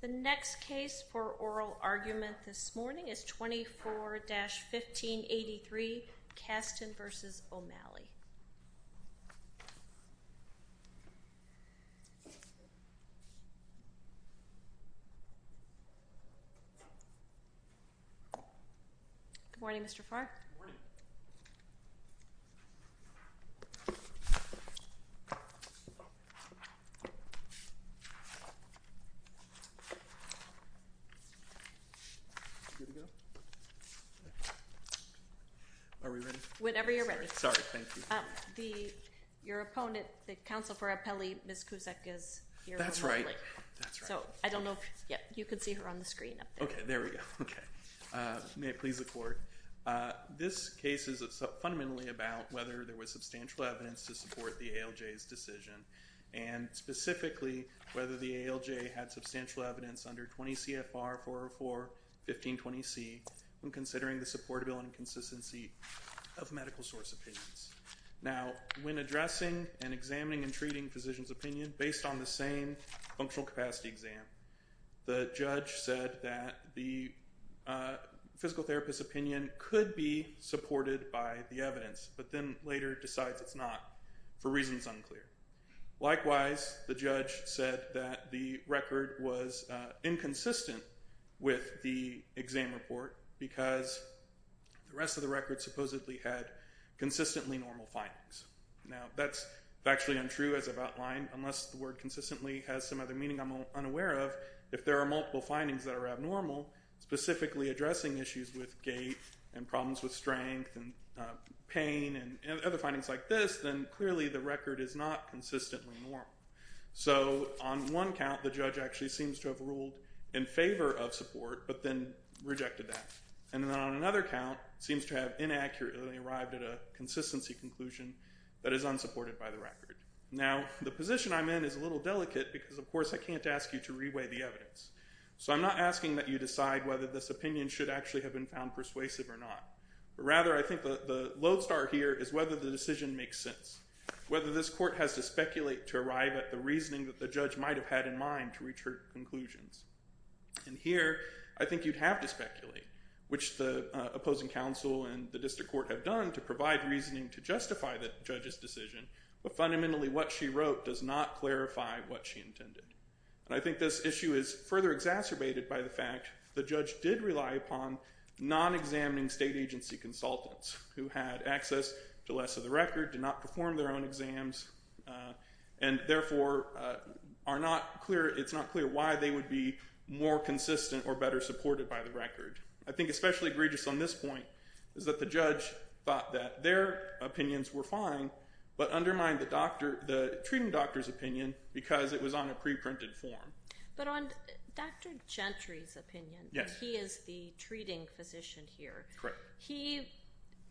The next case for oral argument this morning is 24-1583, Casten v. O'Malley. Good morning, Mr. Farr. Good morning. Are we ready? Whenever you're ready. Sorry, thank you. Your opponent, the counsel for appellee, Ms. Cusack, is here remotely. That's right. So I don't know if you can see her on the screen up there. Okay, there we go. May it please the court. This case is fundamentally about whether there was substantial evidence to support the ALJ's decision, and specifically whether the ALJ had substantial evidence under 20 CFR 404-1520C when considering the supportability and consistency of medical source opinions. Now, when addressing and examining and treating physician's opinion based on the same functional capacity exam, the judge said that the physical therapist's opinion could be supported by the evidence, but then later decides it's not for reasons unclear. Likewise, the judge said that the record was inconsistent with the exam report because the rest of the record supposedly had consistently normal findings. Now, that's factually untrue, as I've outlined, unless the word consistently has some other meaning I'm unaware of. If there are multiple findings that are abnormal, specifically addressing issues with gait and problems with strength and pain and other findings like this, then clearly the record is not consistently normal. So on one count, the judge actually seems to have ruled in favor of support but then rejected that. And then on another count, seems to have inaccurately arrived at a consistency conclusion that is unsupported by the record. Now, the position I'm in is a little delicate because, of course, I can't ask you to reweigh the evidence. So I'm not asking that you decide whether this opinion should actually have been found persuasive or not. Rather, I think the lodestar here is whether the decision makes sense, whether this court has to speculate to arrive at the reasoning that the judge might have had in mind to reach her conclusions. And here, I think you'd have to speculate, which the opposing counsel and the district court have done to provide reasoning to justify the judge's decision, but fundamentally what she wrote does not clarify what she intended. And I think this issue is further exacerbated by the fact the judge did rely upon non-examining state agency consultants who had access to less of the record, did not perform their own exams, and therefore it's not clear why they would be more consistent or better supported by the record. I think especially egregious on this point is that the judge thought that their opinions were fine, but undermined the treating doctor's opinion because it was on a pre-printed form. But on Dr. Gentry's opinion, he is the treating physician here.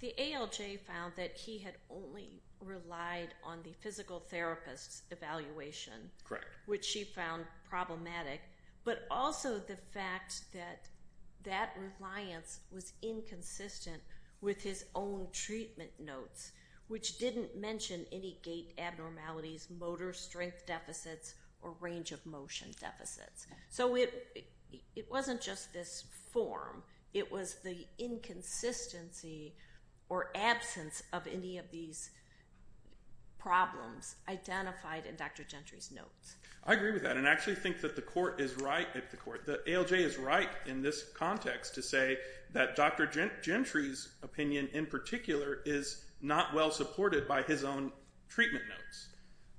The ALJ found that he had only relied on the physical therapist's evaluation, which she found problematic, but also the fact that that reliance was inconsistent with his own treatment notes, which didn't mention any gait abnormalities, motor strength deficits, or range of motion deficits. So it wasn't just this form. It was the inconsistency or absence of any of these problems identified in Dr. Gentry's notes. I agree with that and actually think that the court is right at the court. by his own treatment notes.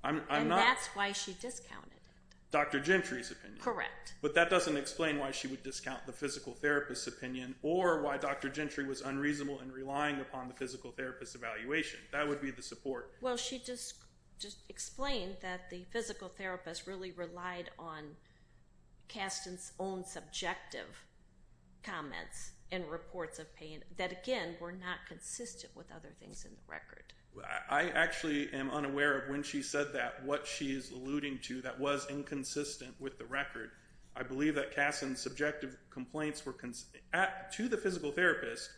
And that's why she discounted it. Dr. Gentry's opinion. Correct. But that doesn't explain why she would discount the physical therapist's opinion or why Dr. Gentry was unreasonable in relying upon the physical therapist's evaluation. That would be the support. Well, she just explained that the physical therapist really relied on Kasten's own subjective comments and reports of pain that, again, were not consistent with other things in the record. I actually am unaware of when she said that, what she is alluding to that was inconsistent with the record. I believe that Kasten's subjective complaints were to the physical therapist.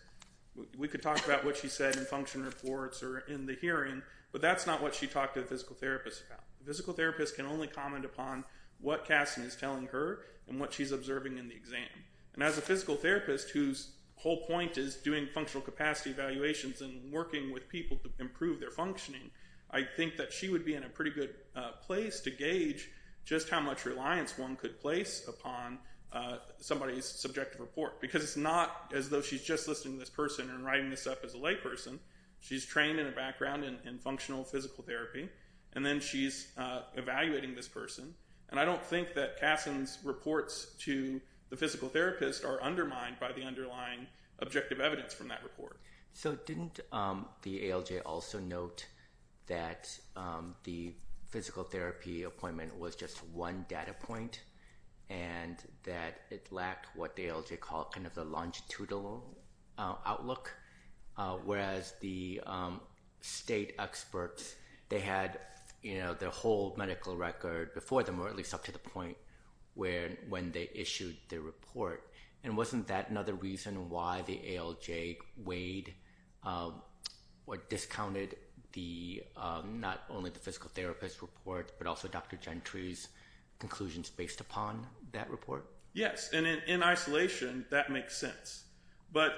We could talk about what she said in function reports or in the hearing, but that's not what she talked to the physical therapist about. The physical therapist can only comment upon what Kasten is telling her and what she's observing in the exam. And as a physical therapist whose whole point is doing functional capacity evaluations and working with people to improve their functioning, I think that she would be in a pretty good place to gauge just how much reliance one could place upon somebody's subjective report. Because it's not as though she's just listening to this person and writing this up as a layperson. She's trained in a background in functional physical therapy, and then she's evaluating this person. And I don't think that Kasten's reports to the physical therapist are undermined by the underlying objective evidence from that report. So didn't the ALJ also note that the physical therapy appointment was just one data point and that it lacked what the ALJ called kind of the longitudinal outlook, whereas the state experts, they had their whole medical record before them, or at least up to the point when they issued their report. And wasn't that another reason why the ALJ weighed or discounted not only the physical therapist's report, but also Dr. Gentry's conclusions based upon that report? Yes, and in isolation, that makes sense. But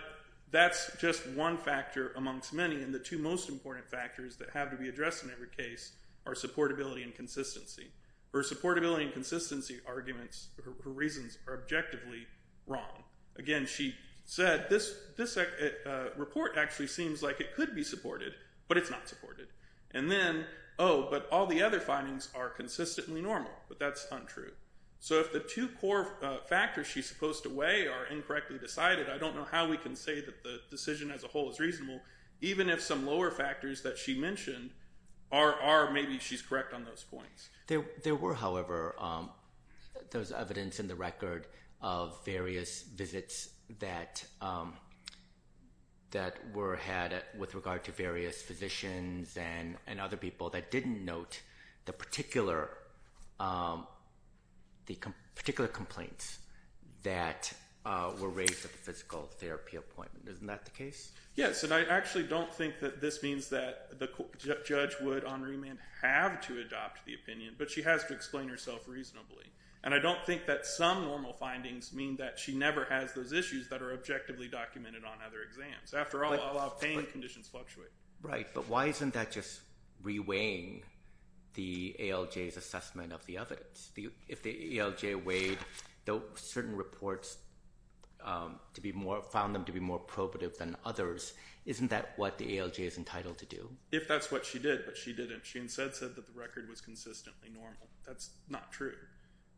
that's just one factor amongst many, and the two most important factors that have to be addressed in every case are supportability and consistency. For supportability and consistency arguments, her reasons are objectively wrong. Again, she said, this report actually seems like it could be supported, but it's not supported. And then, oh, but all the other findings are consistently normal, but that's untrue. So if the two core factors she's supposed to weigh are incorrectly decided, I don't know how we can say that the decision as a whole is reasonable, even if some lower factors that she mentioned are maybe she's correct on those points. There were, however, there was evidence in the record of various visits that were had with regard to various physicians and other people that didn't note the particular complaints that were raised at the physical therapy appointment. Isn't that the case? Yes, and I actually don't think that this means that the judge would on remand have to adopt the opinion, but she has to explain herself reasonably. And I don't think that some normal findings mean that she never has those issues that are objectively documented on other exams. After all, a lot of pain conditions fluctuate. Right, but why isn't that just reweighing the ALJ's assessment of the evidence? If the ALJ weighed certain reports to be more, found them to be more probative than others, isn't that what the ALJ is entitled to do? If that's what she did, but she didn't. She instead said that the record was consistently normal. That's not true.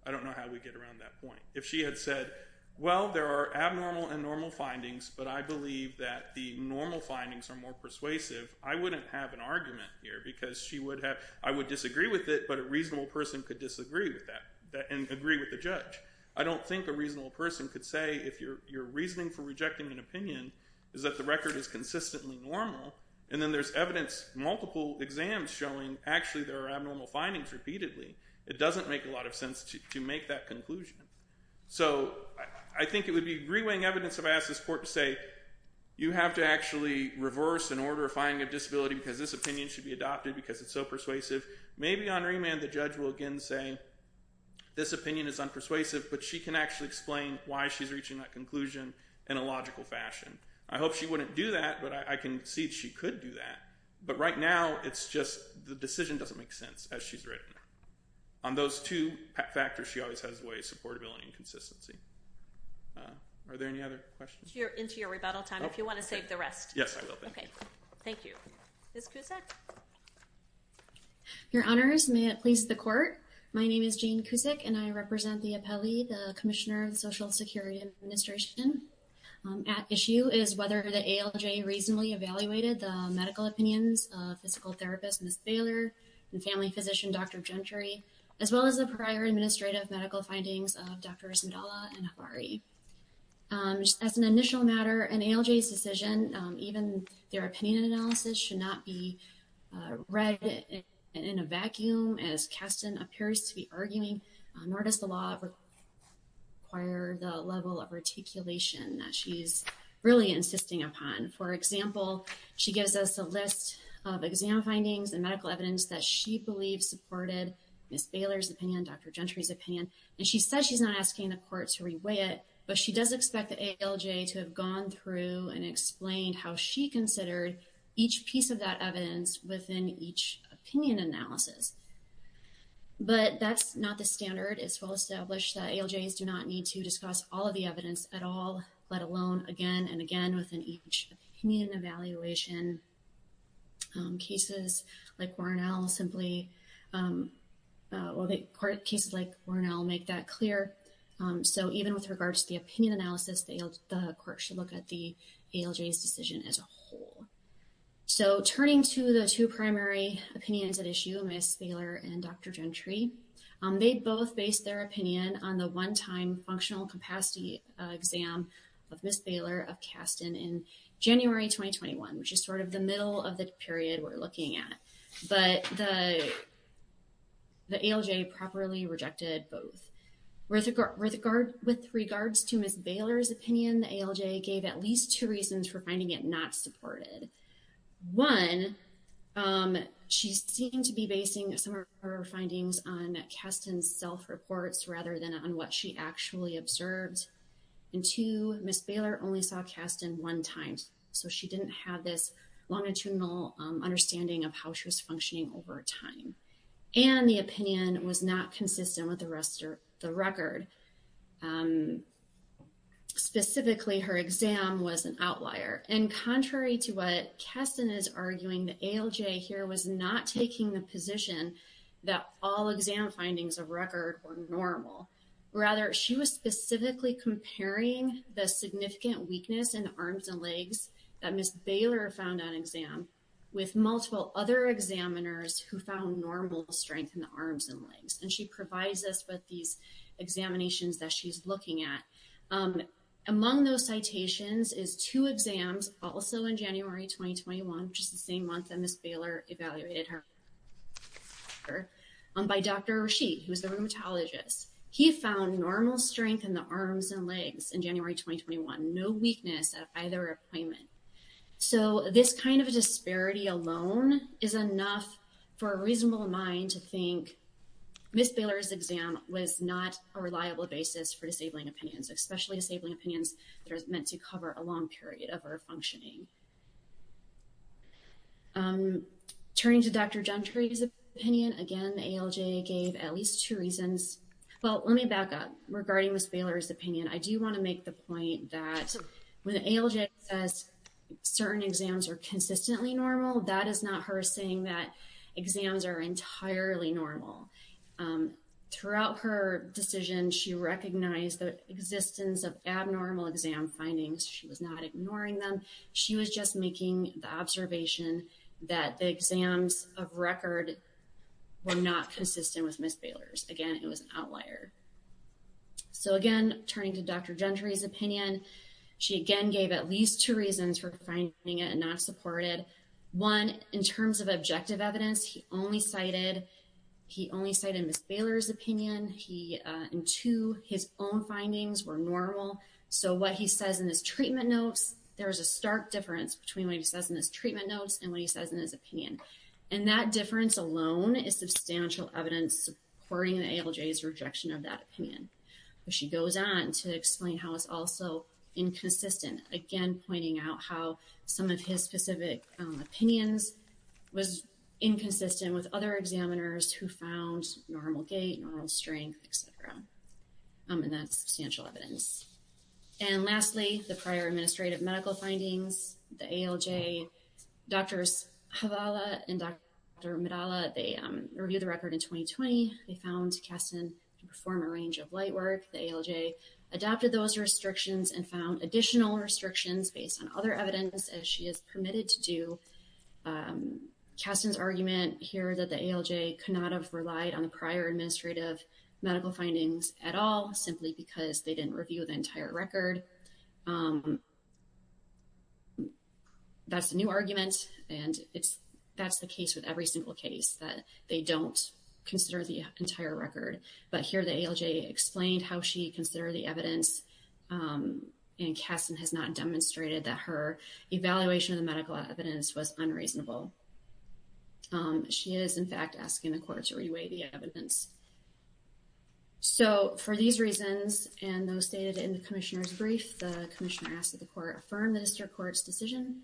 I don't know how we get around that point. If she had said, well, there are abnormal and normal findings, but I believe that the normal findings are more persuasive, I wouldn't have an argument here because I would disagree with it, but a reasonable person could disagree with that and agree with the judge. I don't think a reasonable person could say if your reasoning for rejecting an opinion is that the record is consistently normal, and then there's evidence, multiple exams showing actually there are abnormal findings repeatedly. It doesn't make a lot of sense to make that conclusion. So I think it would be reweighing evidence if I asked this court to say you have to actually reverse an order of finding a disability because this opinion should be adopted because it's so persuasive. Maybe on remand the judge will again say this opinion is unpersuasive, but she can actually explain why she's reaching that conclusion in a logical fashion. I hope she wouldn't do that, but I can see she could do that. But right now it's just the decision doesn't make sense, as she's written. On those two factors, she always has a way of supportability and consistency. Are there any other questions? Into your rebuttal time, if you want to save the rest. Yes, I will. Okay, thank you. Ms. Cusick. Your Honors, may it please the court. My name is Jane Cusick, and I represent the appellee, the Commissioner of the Social Security Administration. At issue is whether the ALJ reasonably evaluated the medical opinions of physical therapist Ms. Baylor and family physician Dr. Gentry, as well as the prior administrative medical findings of Drs. Mdala and Habari. As an initial matter, an ALJ's decision, even their opinion analysis, should not be read in a vacuum as Kasten appears to be arguing, nor does the law require the level of reticulation that she's really insisting upon. For example, she gives us a list of exam findings and medical evidence that she believes supported Ms. Baylor's opinion, Dr. Gentry's opinion, and she says she's not asking the court to reweigh it, but she does expect the ALJ to have gone through and explained how she considered each piece of that evidence within each opinion analysis. But that's not the standard. It's well established that ALJs do not need to discuss all of the evidence at all, let alone again and again within each opinion evaluation. Cases like Cornell simply, well, cases like Cornell make that clear. So even with regards to the opinion analysis, the court should look at the ALJ's decision as a whole. So turning to the two primary opinions at issue, Ms. Baylor and Dr. Gentry, they both based their opinion on the one-time functional capacity exam of Ms. Baylor of Kasten in January 2021, which is sort of the middle of the period we're looking at. But the ALJ properly rejected both. With regards to Ms. Baylor's opinion, the ALJ gave at least two reasons for finding it not supported. One, she seemed to be basing some of her findings on Kasten's self-reports rather than on what she actually observed. And two, Ms. Baylor only saw Kasten one time, so she didn't have this longitudinal understanding of how she was functioning over time. And the opinion was not consistent with the rest of the record. Specifically, her exam was an outlier. And contrary to what Kasten is arguing, the ALJ here was not taking the position that all exam findings of record were normal. Rather, she was specifically comparing the significant weakness in the arms and legs that Ms. Baylor found on exam with multiple other examiners who found normal strength in the arms and legs. And she provides us with these examinations that she's looking at. Among those citations is two exams also in January 2021, just the same month that Ms. Baylor evaluated her by Dr. Rashid, who was the rheumatologist. He found normal strength in the arms and legs in January 2021. No weakness at either appointment. So this kind of a disparity alone is enough for a reasonable mind to think Ms. Baylor's exam was not a reliable basis for disabling opinions, especially disabling opinions that are meant to cover a long period of her functioning. Turning to Dr. Gentry's opinion, again, ALJ gave at least two reasons. Well, let me back up regarding Ms. Baylor's opinion. I do want to make the point that when ALJ says certain exams are consistently normal, that is not her saying that exams are entirely normal. Throughout her decision, she recognized the existence of abnormal exam findings. She was not ignoring them. She was just making the observation that the exams of record were not consistent with Ms. Baylor's. Again, it was an outlier. So, again, turning to Dr. Gentry's opinion, she again gave at least two reasons for finding it not supported. One, in terms of objective evidence, he only cited Ms. Baylor's opinion. And two, his own findings were normal. So what he says in his treatment notes, there is a stark difference between what he says in his treatment notes and what he says in his opinion. And that difference alone is substantial evidence supporting the ALJ's rejection of that opinion. She goes on to explain how it's also inconsistent, again pointing out how some of his specific opinions was inconsistent with other examiners who found normal gait, normal strength, et cetera. And that's substantial evidence. And lastly, the prior administrative medical findings, the ALJ, Drs. Havala and Dr. Medalla, they reviewed the record in 2020. They found Kasten to perform a range of light work. The ALJ adopted those restrictions and found additional restrictions based on other evidence, as she is permitted to do. Kasten's argument here that the ALJ could not have relied on the prior administrative medical findings at all, simply because they didn't review the entire record, that's a new argument. And that's the case with every single case, that they don't consider the entire record. But here the ALJ explained how she considered the evidence, and Kasten has not demonstrated that her evaluation of the medical evidence was unreasonable. She is, in fact, asking the court to reweigh the evidence. So for these reasons, and those stated in the commissioner's brief, the commissioner asked that the court affirm the district court's decision.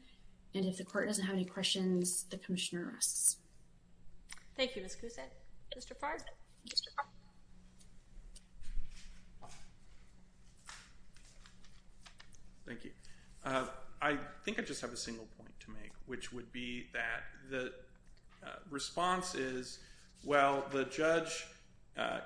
And if the court doesn't have any questions, the commissioner rests. Thank you, Ms. Cousette. Mr. Farr? Thank you. I think I just have a single point to make, which would be that the response is, well, the judge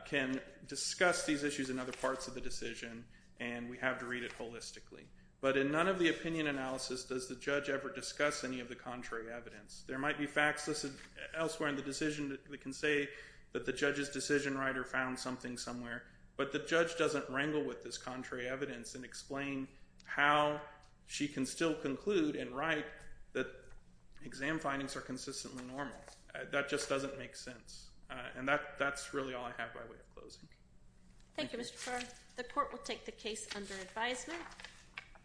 can discuss these issues in other parts of the decision, and we have to read it holistically. But in none of the opinion analysis does the judge ever discuss any of the contrary evidence. There might be facts elsewhere in the decision that can say that the judge's decision writer found something somewhere, but the judge doesn't wrangle with this contrary evidence and explain how she can still conclude and write that exam findings are consistently normal. That just doesn't make sense. And that's really all I have by way of closing. Thank you, Mr. Farr. The court will take the case under advisement.